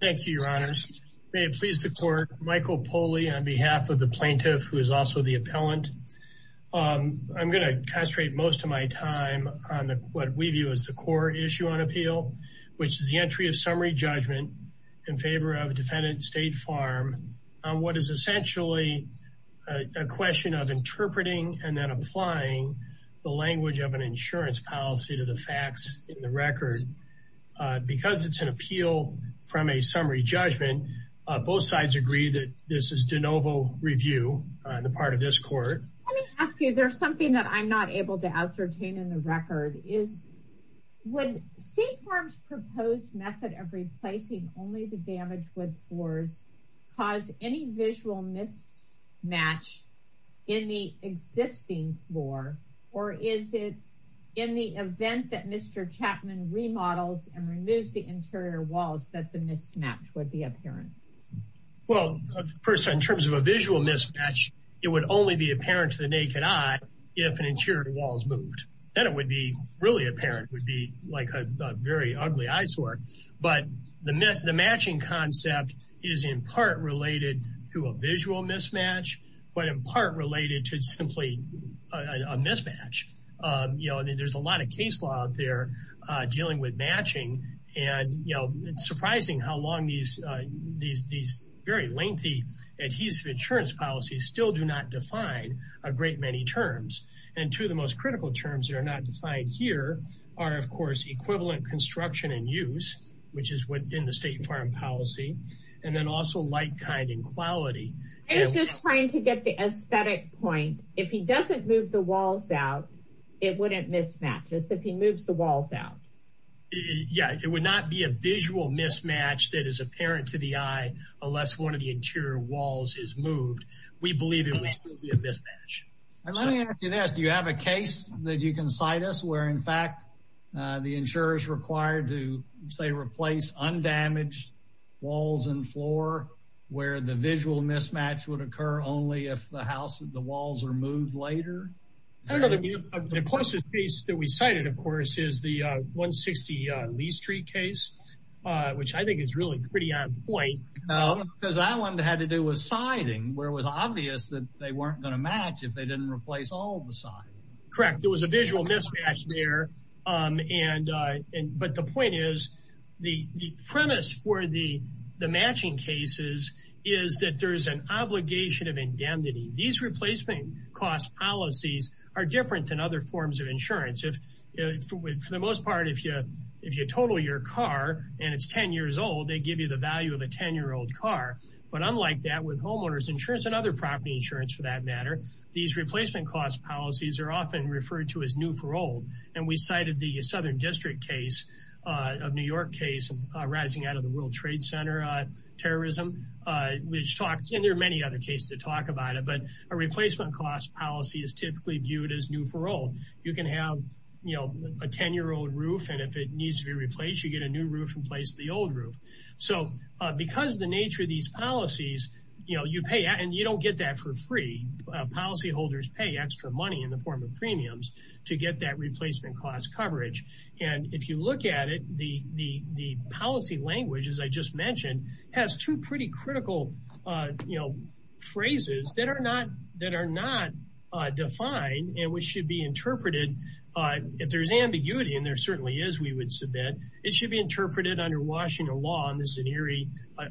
Thank you, Your Honor. May it please the Court, Michael Poli on behalf of the plaintiff, who is also the appellant. I'm going to concentrate most of my time on what we view as the core issue on appeal, which is the entry of summary judgment in favor of defendant State Farm on what is essentially a question of interpreting and then applying the language of an insurance policy to the facts in the record. And because it's an appeal from a summary judgment, both sides agree that this is de novo review on the part of this Court. Let me ask you, there's something that I'm not able to ascertain in the record. Would State Farm's proposed method of replacing only the damaged wood floors cause any visual mismatch in the existing floor? Or is it in the event that Mr. Chapman remodels and removes the interior walls that the mismatch would be apparent? Well, in terms of a visual mismatch, it would only be apparent to the naked eye if an interior wall is moved. Then it would be really apparent, would be like a very ugly eyesore. But the matching concept is in part related to a visual mismatch, but in part related to simply a mismatch. You know, there's a lot of case law out there dealing with matching. And, you know, it's surprising how long these very lengthy adhesive insurance policies still do not define a great many terms. And two of the most critical terms that are not defined here are, of course, equivalent construction and use, which is within the State Farm policy. And then also like, kind, and quality. I was just trying to get the aesthetic point. If he doesn't move the walls out, it wouldn't mismatch. It's if he moves the walls out. Yeah, it would not be a visual mismatch that is apparent to the eye unless one of the interior walls is moved. We believe it would still be a mismatch. And let me ask you this. Do you have a case that you can cite us where, in fact, the insurers required to, say, replace undamaged walls and floor where the visual mismatch would occur only if the walls are moved later? I don't know. The closest case that we cited, of course, is the 160 Lee Street case, which I think is really pretty on point. No, because that one had to do with siding, where it was obvious that they weren't going to match if they didn't replace all the siding. Correct. There was a visual mismatch there. But the point is, the premise for the matching cases is that there is an obligation of indemnity. These replacement cost policies are different than other forms of insurance. For the most part, if you total your car and it's 10 years old, they give you the value of a 10-year-old car. But unlike that, with homeowners insurance and other property insurance, for that matter, these replacement cost policies are often referred to as new for old. We cited the Southern District case, a New York case arising out of the World Trade Center terrorism, and there are many other cases that talk about it. But a replacement cost policy is typically viewed as new for old. You can have a 10-year-old roof, and if it needs to be replaced, you get a new roof in place of the old roof. Because of the nature of these policies, you don't get that for free. Policyholders pay extra money in the form of premiums to get that replacement cost coverage. If you look at it, the policy language, as I just mentioned, has two pretty critical phrases that are not defined and which should be interpreted. If there's ambiguity, and there certainly is, we would submit, it should be interpreted under Washington law, and this is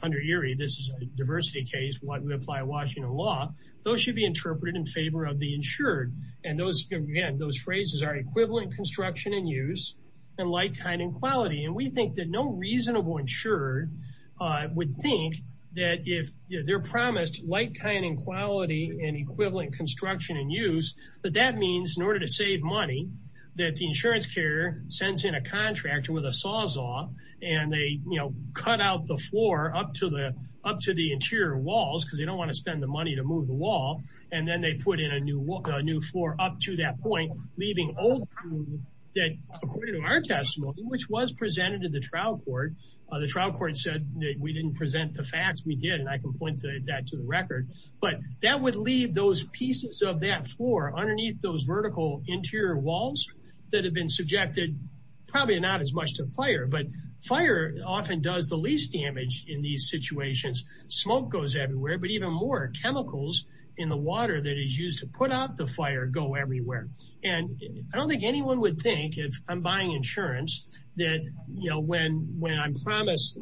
under Erie. This is a diversity case. We apply Washington law. Those should be interpreted in favor of the insured. Again, those phrases are equivalent construction and use and like, kind, and quality. We think that no reasonable insured would think that if they're promised like, kind, and quality and equivalent construction and use, that that means in order to save money, that the insurance carrier sends in a contractor with a sawzall, and they cut out the floor up to the interior walls because they don't want to spend the money to move the wall, and then they put in a new floor up to that point, leaving old, according to our testimony, which was presented to the trial court. The trial court said that we didn't present the facts. We did, and I can point that to the record. But that would leave those pieces of that floor underneath those vertical interior walls that have been subjected, probably not as much to fire, but fire often does the least damage in these situations. Smoke goes everywhere, but even more, chemicals in the water that is used to put out the fire go everywhere. And I don't think anyone would think, if I'm buying insurance, that when I'm promised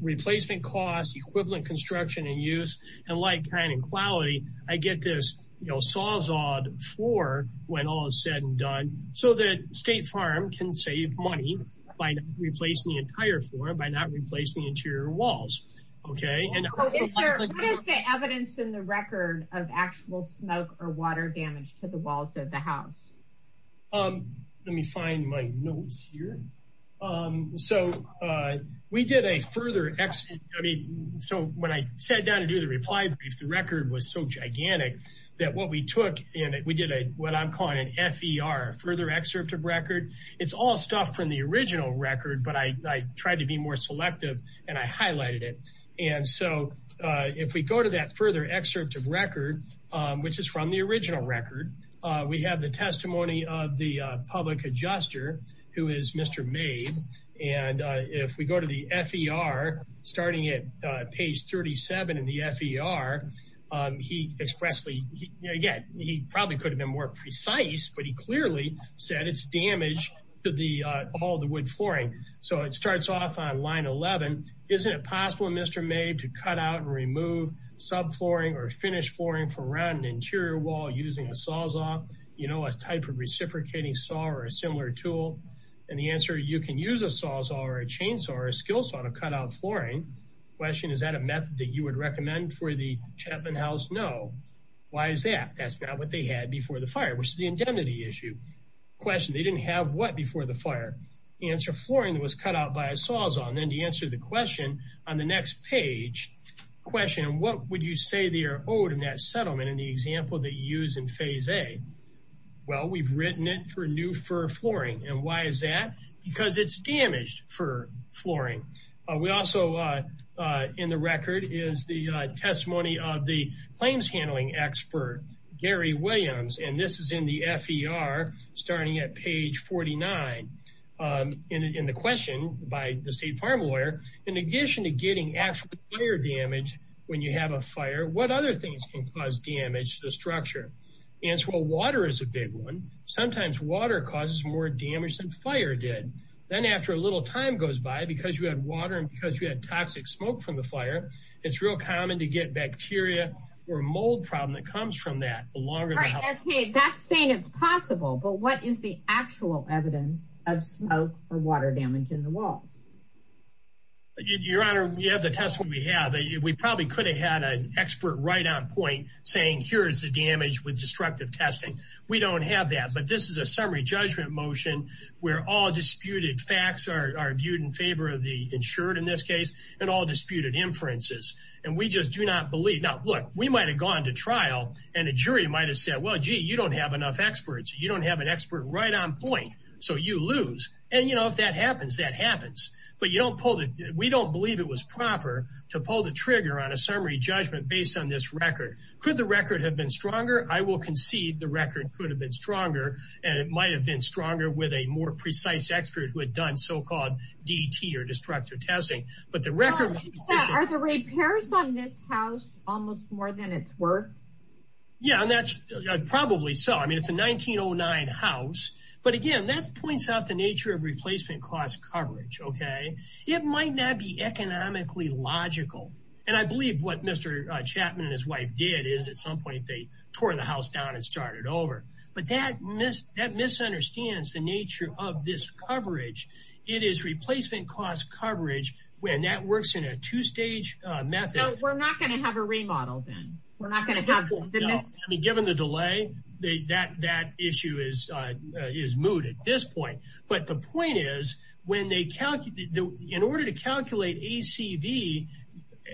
replacement costs, equivalent construction and use, and like, kind, and quality, I get this, you know, sawzalled floor when all is said and done, so that State Farm can save money by replacing the entire floor, by not replacing the interior walls. Okay. What is the evidence in the record of actual smoke or water damage to the walls of the house? Let me find my notes here. So we did a further, I mean, so when I sat down to do the reply brief, the record was so gigantic that what we took, and we did what I'm calling an FER, further excerpt of record. It's all stuff from the original record, but I tried to be more selective, and I highlighted it. And so if we go to that further excerpt of record, which is from the original record, we have the testimony of the public adjuster, who is Mr. Mabe. And if we go to the FER, starting at page 37 in the FER, he expressly, again, he probably could have been more precise, but he clearly said it's damage to all the wood flooring. So it starts off on line 11. Isn't it possible, Mr. Mabe, to cut out and remove subflooring or finished flooring from around an interior wall using a sawzall, you know, a type of reciprocating saw or a similar tool? And the answer, you can use a sawzall or a chainsaw or a skill saw to cut out flooring. Question, is that a method that you would recommend for the Chapman House? No. Why is that? That's not what they had before the fire, which is the indemnity issue. Question, they didn't have what before the fire? Answer, flooring that was cut out by a sawzall. And then to answer the question on the next page, question, what would you say they are owed in that settlement in the example that you use in phase A? Well, we've written it for new FER flooring. And why is that? Because it's damaged for flooring. We also, in the record, is the testimony of the claims handling expert, Gary Williams. And this is in the FER, starting at page 49. And the question by the state fire lawyer, in addition to getting actual fire damage when you have a fire, what other things can cause damage to the structure? Answer, well, water is a big one. Sometimes water causes more damage than fire did. Then after a little time goes by, because you had water and because you had toxic smoke from the fire, it's real common to get bacteria or mold problem that comes from that. That's saying it's possible, but what is the actual evidence of smoke or water damage in the walls? Your Honor, we have the testimony we have. We probably could have had an expert right on point saying, here's the damage with destructive testing. We don't have that, but this is a summary judgment motion where all disputed facts are viewed in favor of the insured in this case and all disputed inferences. And we just do not believe. Now, look, we might have gone to trial and a jury might have said, well, gee, you don't have enough experts. You don't have an expert right on point. So you lose. And if that happens, that happens. But we don't believe it was proper to pull the trigger on a summary judgment based on this record. Could the record have been stronger? I will concede the record could have been stronger and it might have been stronger with a more precise expert who had done so-called DT or destructive testing. Are the repairs on this house almost more than it's worth? Yeah, and that's probably so. I mean, it's a 1909 house. But again, that points out the nature of replacement cost coverage, okay? It might not be economically logical. And I believe what Mr. Chapman and his wife did is at some point they tore the house down and started over. But that misunderstands the nature of this coverage. It is replacement cost coverage, and that works in a two-stage method. No, we're not going to have a remodel then. We're not going to have the mis- No. I mean, given the delay, that issue is moot at this point. But the point is, in order to calculate ACV,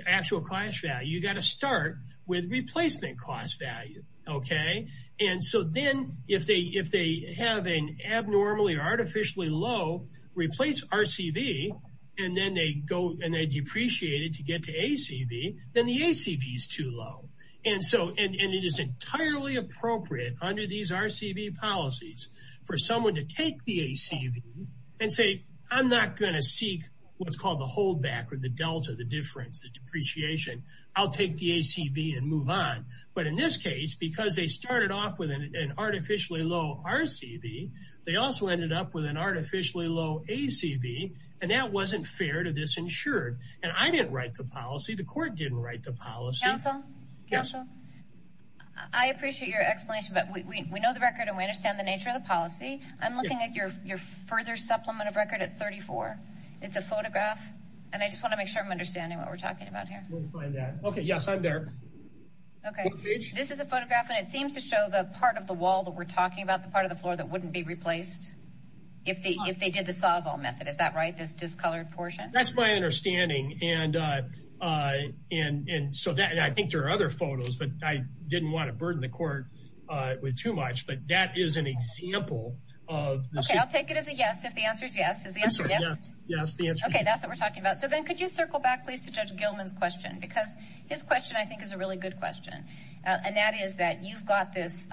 actual cost value, you've got to start with replacement cost value, okay? And so then if they have an abnormally or artificially low replace RCV, and then they depreciate it to get to ACV, then the ACV is too low. And it is entirely appropriate under these RCV policies for someone to take the ACV and say, I'm not going to seek what's called the holdback or the delta, the difference, the depreciation. I'll take the ACV and move on. But in this case, because they started off with an artificially low RCV, they also ended up with an artificially low ACV, and that wasn't fair to this insured. And I didn't write the policy. The court didn't write the policy. Counsel? Yes. I appreciate your explanation, but we know the record and we understand the nature of the policy. I'm looking at your further supplement of record at 34. It's a photograph, and I just want to make sure I'm understanding what we're talking about here. We'll find out. Okay, yes, I'm there. Okay, this is a photograph, and it seems to show the part of the wall that we're talking about, the part of the floor that wouldn't be replaced if they did the Sawzall method. Is that right, this discolored portion? That's my understanding. And so I think there are other photos, but I didn't want to burden the court with too much. But that is an example of this. Okay, I'll take it as a yes if the answer is yes. Is the answer yes? Yes, the answer is yes. Okay, that's what we're talking about. So then could you circle back, please, to Judge Gilman's question? Because his question, I think, is a really good question. And that is that you've got this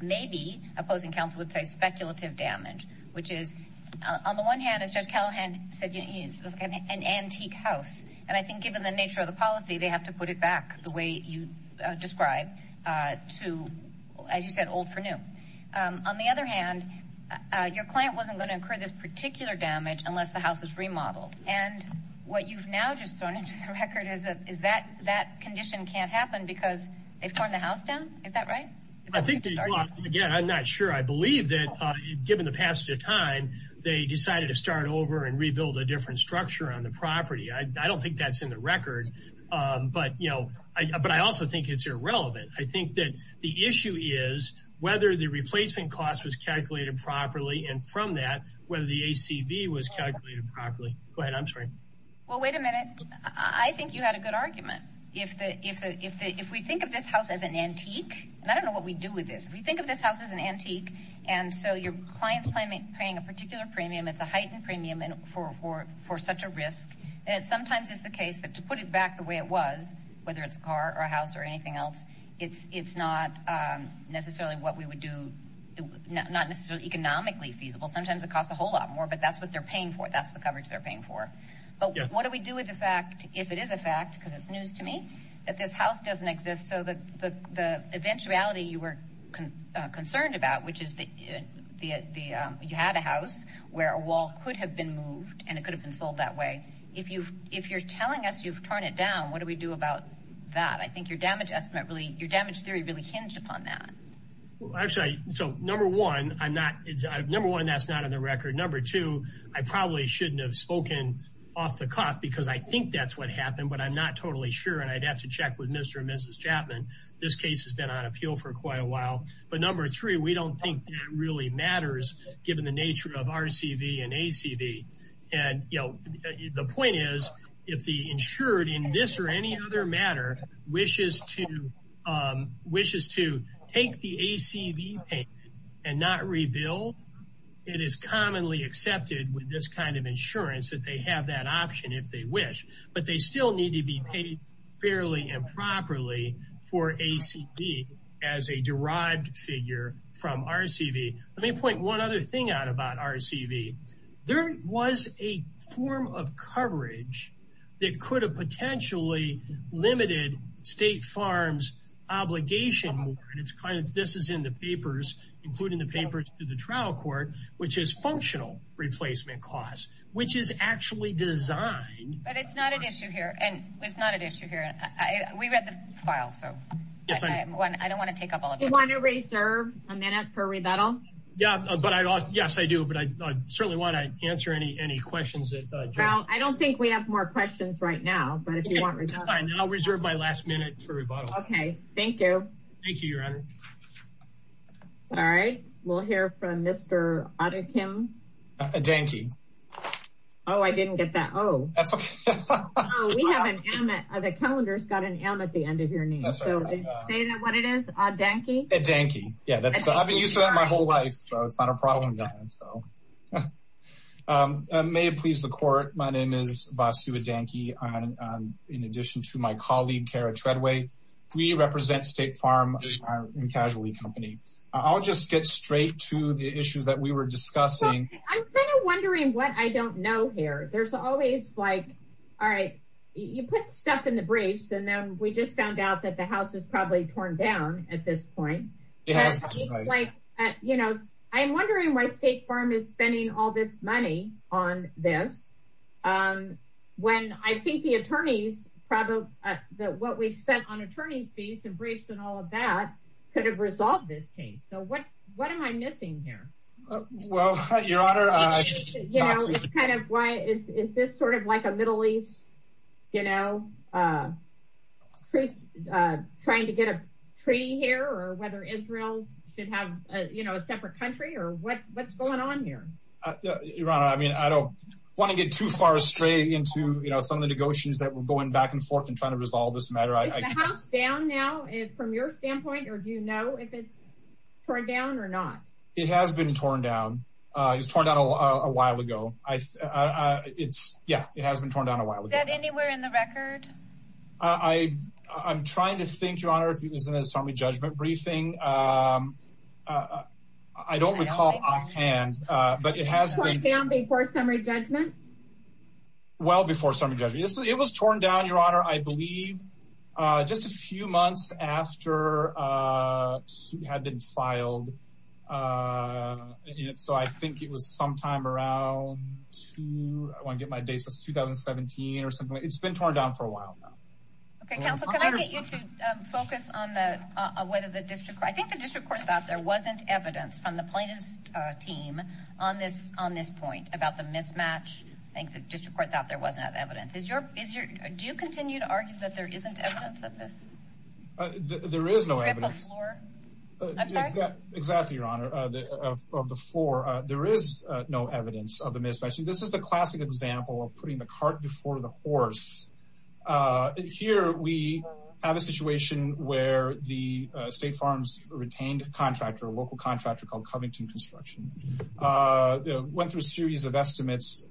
maybe, opposing counsel would say, speculative damage, which is, on the one hand, as Judge Callahan said, it's an antique house. And I think given the nature of the policy, they have to put it back the way you described to, as you said, old for new. On the other hand, your client wasn't going to incur this particular damage unless the house was remodeled. And what you've now just thrown into the record is that that condition can't happen because they've torn the house down? Is that right? Again, I'm not sure. I believe that, given the passage of time, they decided to start over and rebuild a different structure on the property. I don't think that's in the record. But I also think it's irrelevant. I think that the issue is whether the replacement cost was calculated properly, and from that, whether the ACV was calculated properly. Go ahead. I'm sorry. Well, wait a minute. I think you had a good argument. If we think of this house as an antique, and I don't know what we do with this, if we think of this house as an antique, and so your client's paying a particular premium, it's a heightened premium for such a risk, then it sometimes is the case that to put it back the way it was, whether it's a car or a house or anything else, it's not necessarily what we would do. Not necessarily economically feasible. Sometimes it costs a whole lot more, but that's what they're paying for. That's the coverage they're paying for. But what do we do with the fact, if it is a fact, because it's news to me, that this house doesn't exist? So the eventuality you were concerned about, which is you had a house where a wall could have been moved and it could have been sold that way, if you're telling us you've torn it down, what do we do about that? I think your damage theory really hinged upon that. Actually, so number one, that's not on the record. Number two, I probably shouldn't have spoken off the cuff, because I think that's what happened, but I'm not totally sure, and I'd have to check with Mr. and Mrs. Chapman. This case has been on appeal for quite a while. But number three, we don't think that really matters, given the nature of RCV and ACV. And the point is, if the insured in this or any other matter, wishes to take the ACV payment and not rebuild, it is commonly accepted with this kind of insurance that they have that option if they wish. But they still need to be paid fairly and properly for ACV as a derived figure from RCV. Let me point one other thing out about RCV. There was a form of coverage that could have potentially limited State Farms' obligation. This is in the papers, including the papers to the trial court, which is functional replacement costs, which is actually designed. But it's not an issue here. It's not an issue here. We read the file, so I don't want to take up all of it. You want to reserve a minute for rebuttal? Yes, I do. But I certainly want to answer any questions. Well, I don't think we have more questions right now. That's fine. I'll reserve my last minute for rebuttal. Okay. Thank you. Thank you, Your Honor. All right. We'll hear from Mr. Adekim. Adanky. Oh, I didn't get that. Oh. That's okay. Oh, we have an M. The calendar's got an M at the end of your name. Say what it is. Adanky? Adanky. I've been used to that my whole life, so it's not a problem. May it please the court, my name is Vasu Adanky. In addition to my colleague, Kara Treadway, we represent State Farm and Casualty Company. I'll just get straight to the issues that we were discussing. I'm kind of wondering what I don't know here. There's always, like, all right, you put stuff in the briefs, and then we just found out that the house is probably torn down at this point. It's like, you know, I'm wondering why State Farm is spending all this money on this, when I think the attorneys probably, what we've spent on attorney's fees and briefs and all of that could have resolved this case. So what am I missing here? Well, Your Honor. You know, it's kind of why, is this sort of like a Middle East, you know, trying to get a treaty here, or whether Israel should have, you know, a separate country, or what's going on here? Your Honor, I mean, I don't want to get too far astray into, you know, some of the negotiations that we're going back and forth and trying to resolve this matter. Is the house down now from your standpoint, or do you know if it's torn down or not? It has been torn down. It was torn down a while ago. It's, yeah, it has been torn down a while ago. Is that anywhere in the record? I I'm trying to think, Your Honor. If he was in a summary judgment briefing. I don't recall offhand, but it has. Before summary judgment. Well, before some of the judges, it was torn down, Your Honor, I believe. Just a few months after a suit had been filed. So I think it was sometime around two. I want to get my dates. It was 2017 or something. It's been torn down for a while now. Okay, counsel. Can I get you to focus on the, whether the district, I think the district court thought there wasn't evidence from the plaintiff's team on this, on this point about the mismatch. I think the district court thought there wasn't evidence. Is your, is your, do you continue to argue that there isn't evidence of this? There is no evidence. Exactly. Your Honor of the floor. There is no evidence of the mismatch. And this is the classic example of putting the cart before the horse. Here we have a situation where the state farms retained a contractor, a local contractor called Covington construction. Went through a series of estimates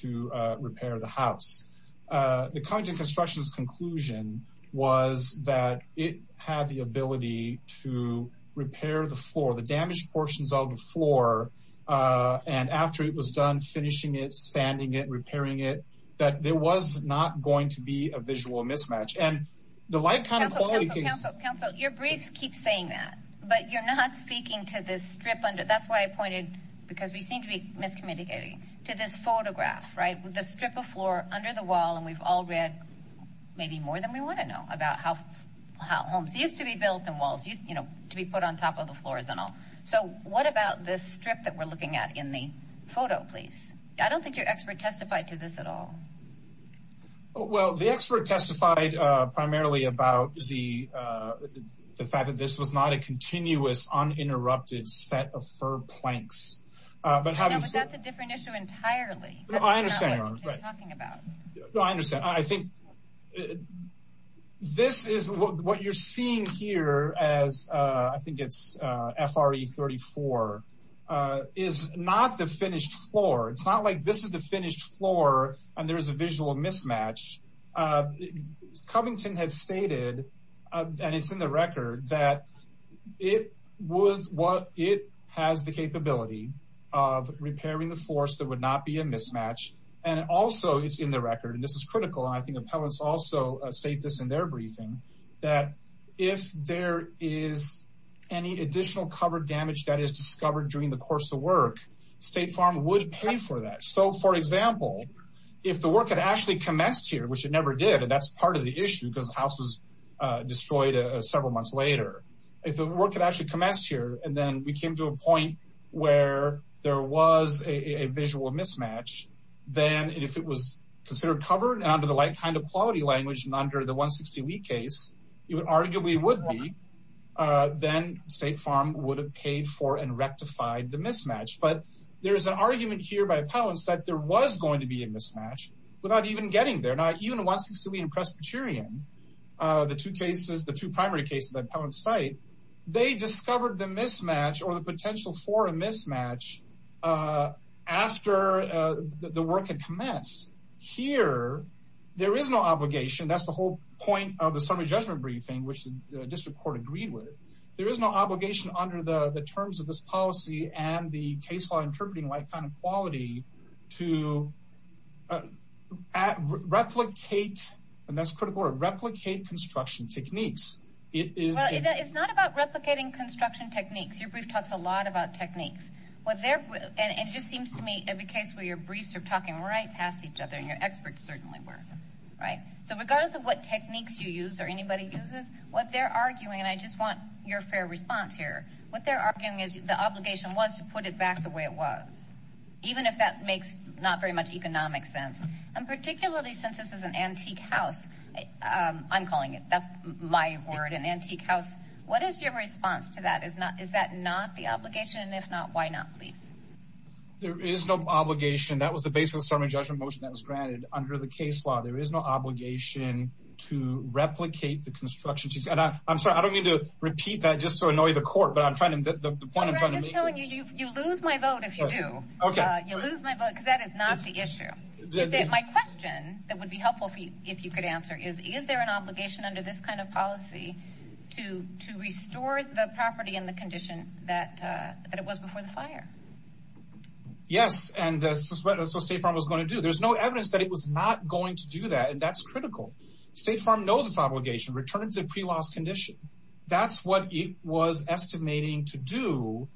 to repair the house. The contract construction's conclusion was that it had the ability to repair the floor, the damaged portions of the floor. And after it was done, finishing it, sanding it, repairing it, that there was not going to be a visual mismatch. And the light kind of quality. Counsel your briefs keep saying that, but you're not speaking to this strip under that's why I pointed. Because we seem to be miscommunicating to this photograph, right? The strip of floor under the wall. And we've all read maybe more than we want to know about how, how homes used to be built in walls, you know, to be put on top of the floors and all. So what about this strip that we're looking at in the photo, please? I don't think your expert testified to this at all. Well, the expert testified primarily about the, the fact that this was not a continuous uninterrupted set of for planks, but having a different issue entirely. I understand. I understand. I think this is what you're seeing here as a, I think it's a FRA 34 is not the finished floor. It's not like this is the finished floor and there is a visual mismatch. Covington had stated, and it's in the record that it was what, it has the capability of repairing the force that would not be a mismatch. And also it's in the record, and this is critical. And I think appellants also state this in their briefing, that if there is any additional covered damage that is discovered during the course of work, state farm would pay for that. So for example, if the work had actually commenced here, which it never did, and that's part of the issue because the house was destroyed several months later, if the work had actually commenced here, and then we came to a point where there was a visual mismatch, then if it was considered covered and under the light kind of quality language and under the one 60 lead case, you would arguably would be, then state farm would have paid for and rectified the mismatch. But there's an argument here by appellants, that there was going to be a mismatch without even getting there. Now, even the one 60 lead in Presbyterian, the two cases, the appellant site, they discovered the mismatch or the potential for a mismatch after the work had commenced. Here, there is no obligation. That's the whole point of the summary judgment briefing, which the district court agreed with. There is no obligation under the terms of this policy and the case law interpreting light kind of quality to replicate, and that's critical, or replicate construction techniques. It's not about replicating construction techniques. Your brief talks a lot about techniques. And it just seems to me every case where your briefs are talking right past each other and your experts certainly were. So regardless of what techniques you use or anybody uses, what they're arguing, and I just want your fair response here, what they're arguing is the obligation was to put it back the way it was, even if that makes not very much economic sense. And particularly since this is an antique house, I'm calling it, that's my word, an antique house. What is your response to that? Is that not the obligation? And if not, why not, please? There is no obligation. That was the basis of the summary judgment motion that was granted under the case law. There is no obligation to replicate the construction techniques. And I'm sorry, I don't mean to repeat that just to annoy the court, but I'm trying to, the point I'm trying to make here. I'm just telling you, you lose my vote if you do. You lose my vote because that is not the issue. My question that would be helpful if you could answer is, is there an obligation under this kind of policy to restore the property and the condition that it was before the fire? Yes. And that's what State Farm was going to do. There's no evidence that it was not going to do that. And that's critical. State Farm knows its obligation, return it to the pre-loss condition. That's what it was estimating to do.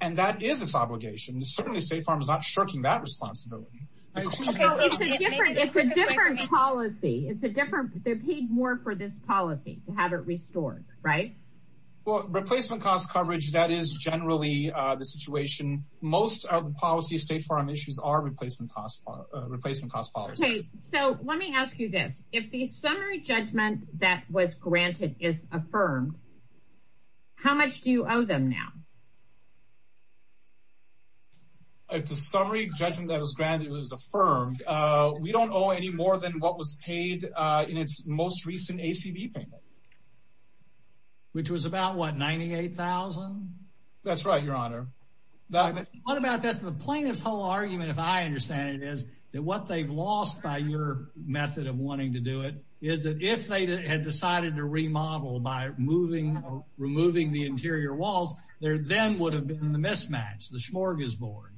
And that is its obligation. Certainly State Farm is not shirking that responsibility. It's a different policy. It's a different, they're paid more for this policy to have it restored. Right? Well, replacement cost coverage, that is generally the situation. Most of the policy State Farm issues are replacement cost, replacement cost policy. So let me ask you this. If the summary judgment that was granted is affirmed, how much do you owe them now? If the summary judgment that was granted was affirmed, we don't owe any more than what was paid in its most recent ACB payment. Which was about, what, $98,000? That's right, Your Honor. What about this? The plaintiff's whole argument, if I understand it, is that what they've lost by your method of wanting to do it is that if they had decided to remodel by removing the interior walls, there then would have been the mismatch, the smorgasbord.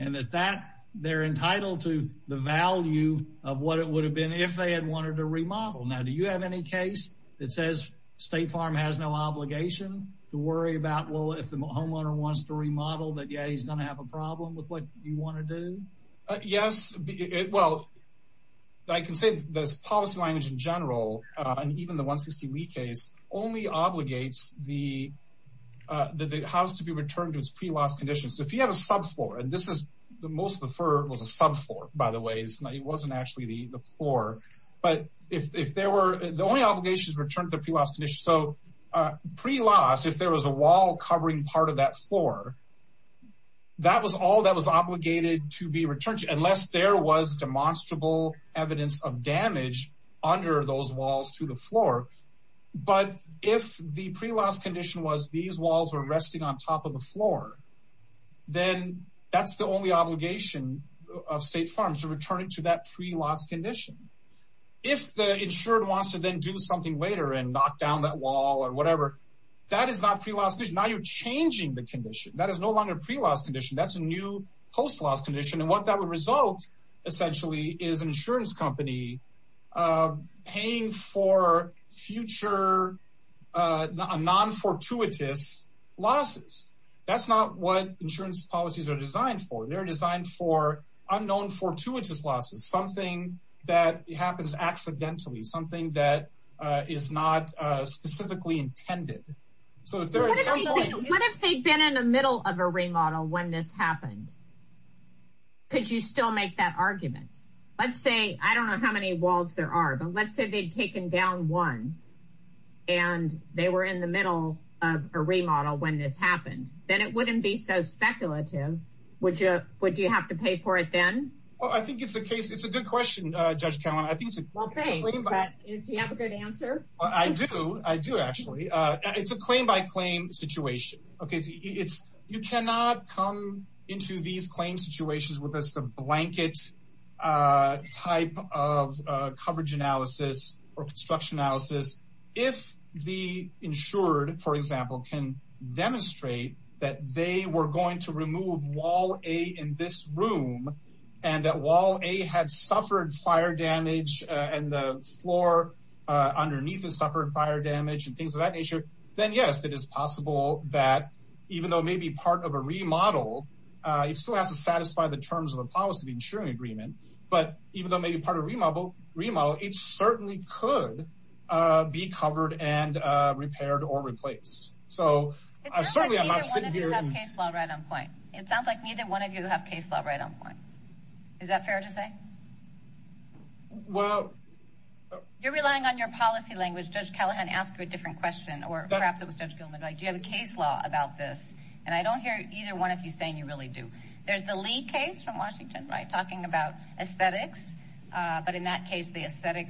And that they're entitled to the value of what it would have been if they had wanted to remodel. Now, do you have any case that says State Farm has no obligation to worry about, well, if the homeowner wants to remodel, that, yeah, he's going to have a problem with what you want to do? Yes. Well, I can say this policy language in general, and even the 160 Lee case, only obligates the house to be returned to its pre-loss condition. So if you have a sub-floor, and this is, most of the fur was a sub-floor, by the way. It wasn't actually the floor. But if there were, the only obligation is to return to the pre-loss condition. So pre-loss, if there was a wall covering part of that floor, that was all that was obligated to be returned to, unless there was demonstrable evidence of damage under those walls to the floor. But if the pre-loss condition was, these walls were resting on top of the floor, then that's the only obligation of State Farm, to return it to that pre-loss condition. If the insured wants to then do something later and knock down that wall or whatever, that is not pre-loss condition. Now you're changing the condition. That is no longer pre-loss condition. That's a new post-loss condition. And what that would result, essentially, is an insurance company paying for future non-fortuitous losses. That's not what insurance policies are designed for. They're designed for unknown fortuitous losses, something that happens accidentally, something that is not specifically intended. So if there is something- Could you still make that argument? Let's say, I don't know how many walls there are, but let's say they'd taken down one and they were in the middle of a remodel when this happened. Then it wouldn't be so speculative. Would you have to pay for it then? Well, I think it's a good question, Judge Callen. Well, thanks, but do you have a good answer? I do. I do, actually. It's a claim-by-claim situation. You cannot come into these claim situations with just a blanket type of coverage analysis or construction analysis. If the insured, for example, can demonstrate that they were going to remove wall A in this room and that wall A had suffered fire damage and the floor underneath had suffered fire damage and things of that nature, then yes, it is possible that even though it may be part of a remodel, it still has to satisfy the terms of a policy of the insuring agreement. But even though it may be part of a remodel, it certainly could be covered and repaired or replaced. So I certainly am not sitting here- It sounds like neither one of you have case law right on point. It sounds like neither one of you have case law right on point. Is that fair to say? Well- You're relying on your policy language. Judge Callahan asked you a different question, or perhaps it was Judge Gilman. Do you have a case law about this? And I don't hear either one of you saying you really do. There's the Lee case from Washington, right, talking about aesthetics. But in that case, the aesthetic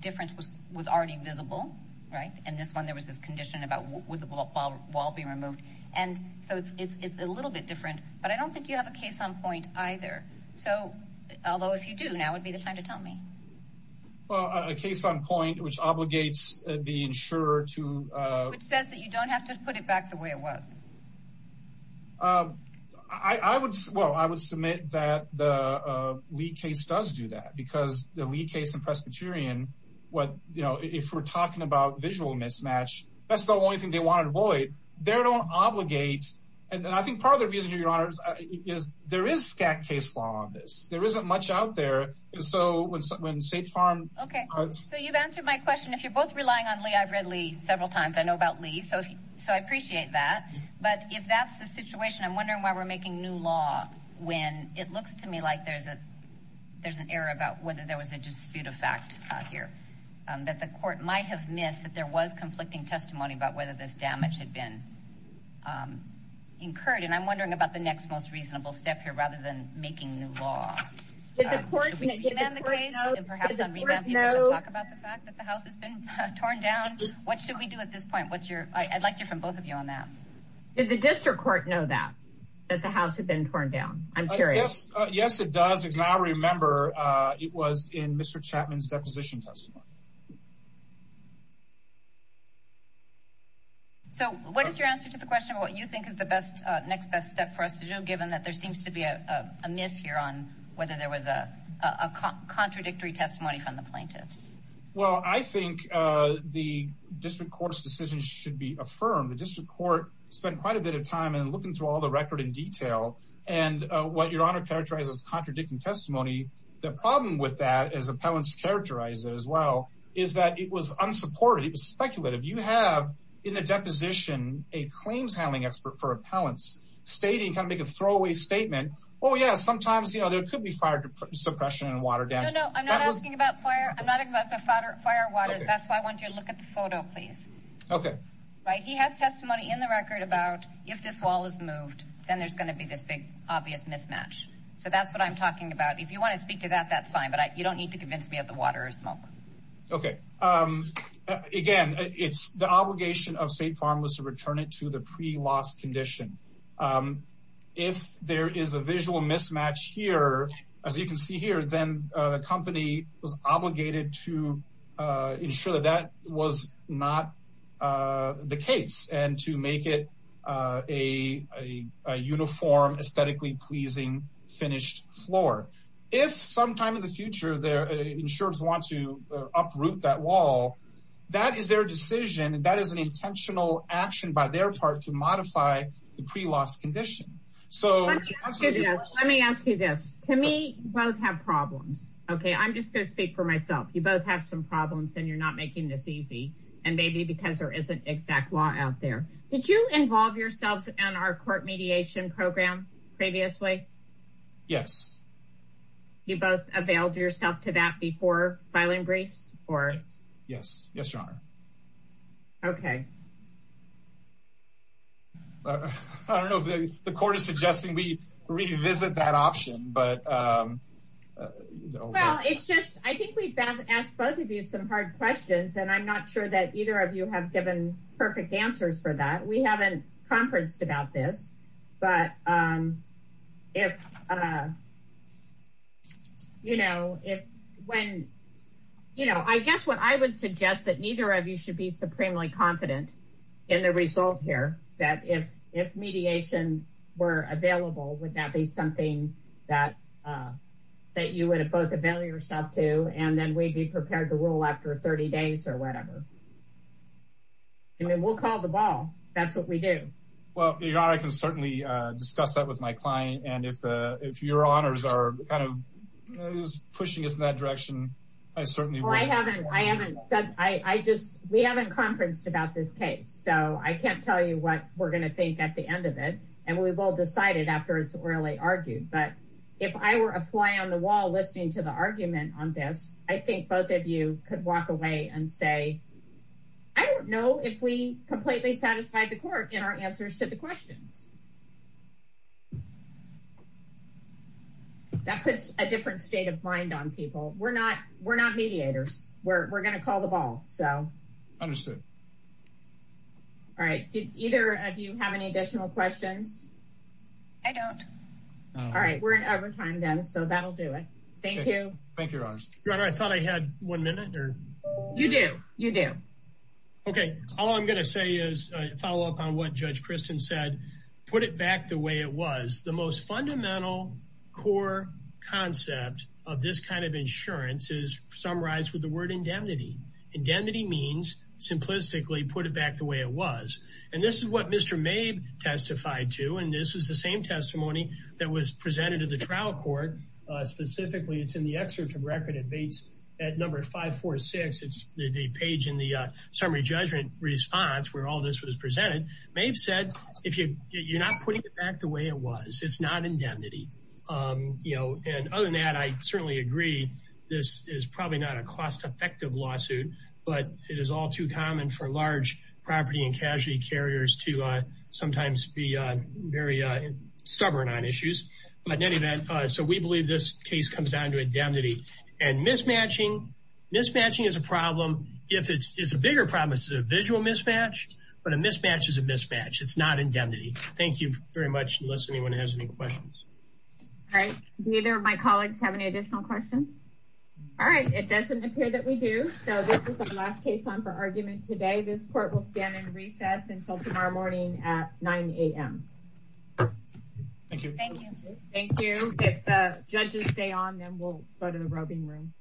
difference was already visible, right? In this one, there was this condition about would the wall be removed? And so it's a little bit different. But I don't think you have a case on point either. So, although if you do, now would be the time to tell me. Well, a case on point, which obligates the insurer to- Which says that you don't have to put it back the way it was. I would- Well, I would submit that the Lee case does do that because the Lee case in Presbyterian, if we're talking about visual mismatch, that's the only thing they want to avoid. They don't obligate- And I think part of the reason, Your Honor, is there is scant case law on this. There isn't much out there. And so when State Farm- Okay, so you've answered my question. If you're both relying on Lee, I've read Lee several times. I know about Lee, so I appreciate that. But if that's the situation, I'm wondering why we're making new law when it looks to me like there's an error about whether there was a dispute of fact here, that the court might have missed, that there was conflicting testimony about whether this damage had been incurred. And I'm wondering about the next most reasonable step here rather than making new law. Should we remand the case? And perhaps on remand people should talk about the fact that the house has been torn down? What should we do at this point? I'd like to hear from both of you on that. Did the district court know that, that the house had been torn down? I'm curious. Yes, it does. And I remember it was in Mr. Chapman's deposition testimony. So what is your answer to the question of what you think is the next best step for us to do given that there seems to be a mishear on whether there was a contradictory testimony from the plaintiffs? Well, I think the district court's decision should be affirmed. The district court spent quite a bit of time in looking through all the record in detail and what Your Honor characterized as contradicting testimony. The problem with that, as appellants characterized it as well, is that it was unsupported. It was speculative. You have in the deposition a claims handling expert for appellants stating, kind of make a throwaway statement, oh yeah, sometimes there could be fire suppression and water damage. No, no, I'm not asking about fire. I'm not asking about fire or water. That's why I want you to look at the photo, please. Okay. He has testimony in the record about if this wall is moved, then there's going to be this big obvious mismatch. So that's what I'm talking about. If you want to speak to that, that's fine, but you don't need to convince me of the water or smoke. Okay. Again, it's the obligation of State Farm was to return it to the pre-loss condition. If there is a visual mismatch here, as you can see here, then the company was obligated to ensure that that was not the case and to make it a uniform, aesthetically pleasing finished floor. If sometime in the future, insurers want to uproot that wall, that is their decision. That is an intentional action by their part to modify the pre-loss condition. Let me ask you this. To me, you both have problems. Okay. I'm just going to speak for myself. You both have some problems and you're not making this easy and maybe because there isn't exact law out there. Did you involve yourselves in our court mediation program previously? Yes. You both availed yourself to that before filing briefs? Yes. Yes, Your Honor. Okay. I don't know if the court is suggesting we revisit that option. I think we've asked both of you some hard questions and I'm not sure that either of you have given perfect answers for that. We haven't conferenced about this. I guess what I would suggest is that neither of you should be supremely confident in the result here, that if mediation were available, would that be something that you would have both availed yourself to and then we'd be prepared to rule after 30 days or whatever. I mean, we'll call the ball. That's what we do. Well, Your Honor, I can certainly discuss that with my client and if Your Honors are kind of pushing us in that direction, I certainly will. We haven't conferenced about this case, so I can't tell you what we're going to think at the end of it and we will decide it after it's really argued. But if I were a fly on the wall listening to the argument on this, I think both of you could walk away and say, I don't know if we completely satisfied the court in our answers to the questions. That puts a different state of mind on people. We're not mediators. We're going to call the ball. Understood. All right. Do either of you have any additional questions? I don't. All right. We're in overtime then, so that'll do it. Thank you. Thank you, Your Honor. Your Honor, I thought I had one minute. You do. You do. Okay. All I'm going to say is a follow-up on what Judge Kristen said. Put it back the way it was. The most fundamental core concept of this kind of insurance is summarized with the word indemnity. Indemnity means, simplistically, put it back the way it was. And this is what Mr. Mabe testified to, and this was the same testimony that was presented to the trial court. Specifically, it's in the excerpt of record. It meets at number 546. It's the page in the summary judgment response where all this was presented. Mabe said, you're not putting it back the way it was. It's not indemnity. And other than that, I certainly agree. This is probably not a cost-effective lawsuit, but it is all too common for large property and casualty carriers to sometimes be very stubborn on issues. But in any event, so we believe this case comes down to indemnity. And mismatching, mismatching is a problem. It's a bigger problem. This is a visual mismatch, but a mismatch is a mismatch. It's not indemnity. Thank you very much, unless anyone has any questions. All right. Neither of my colleagues have any additional questions. All right. It doesn't appear that we do, so this is the last case on for argument today. This court will stand in recess until tomorrow morning at 9 a.m. Thank you. Thank you. If the judges stay on, then we'll go to the roving room.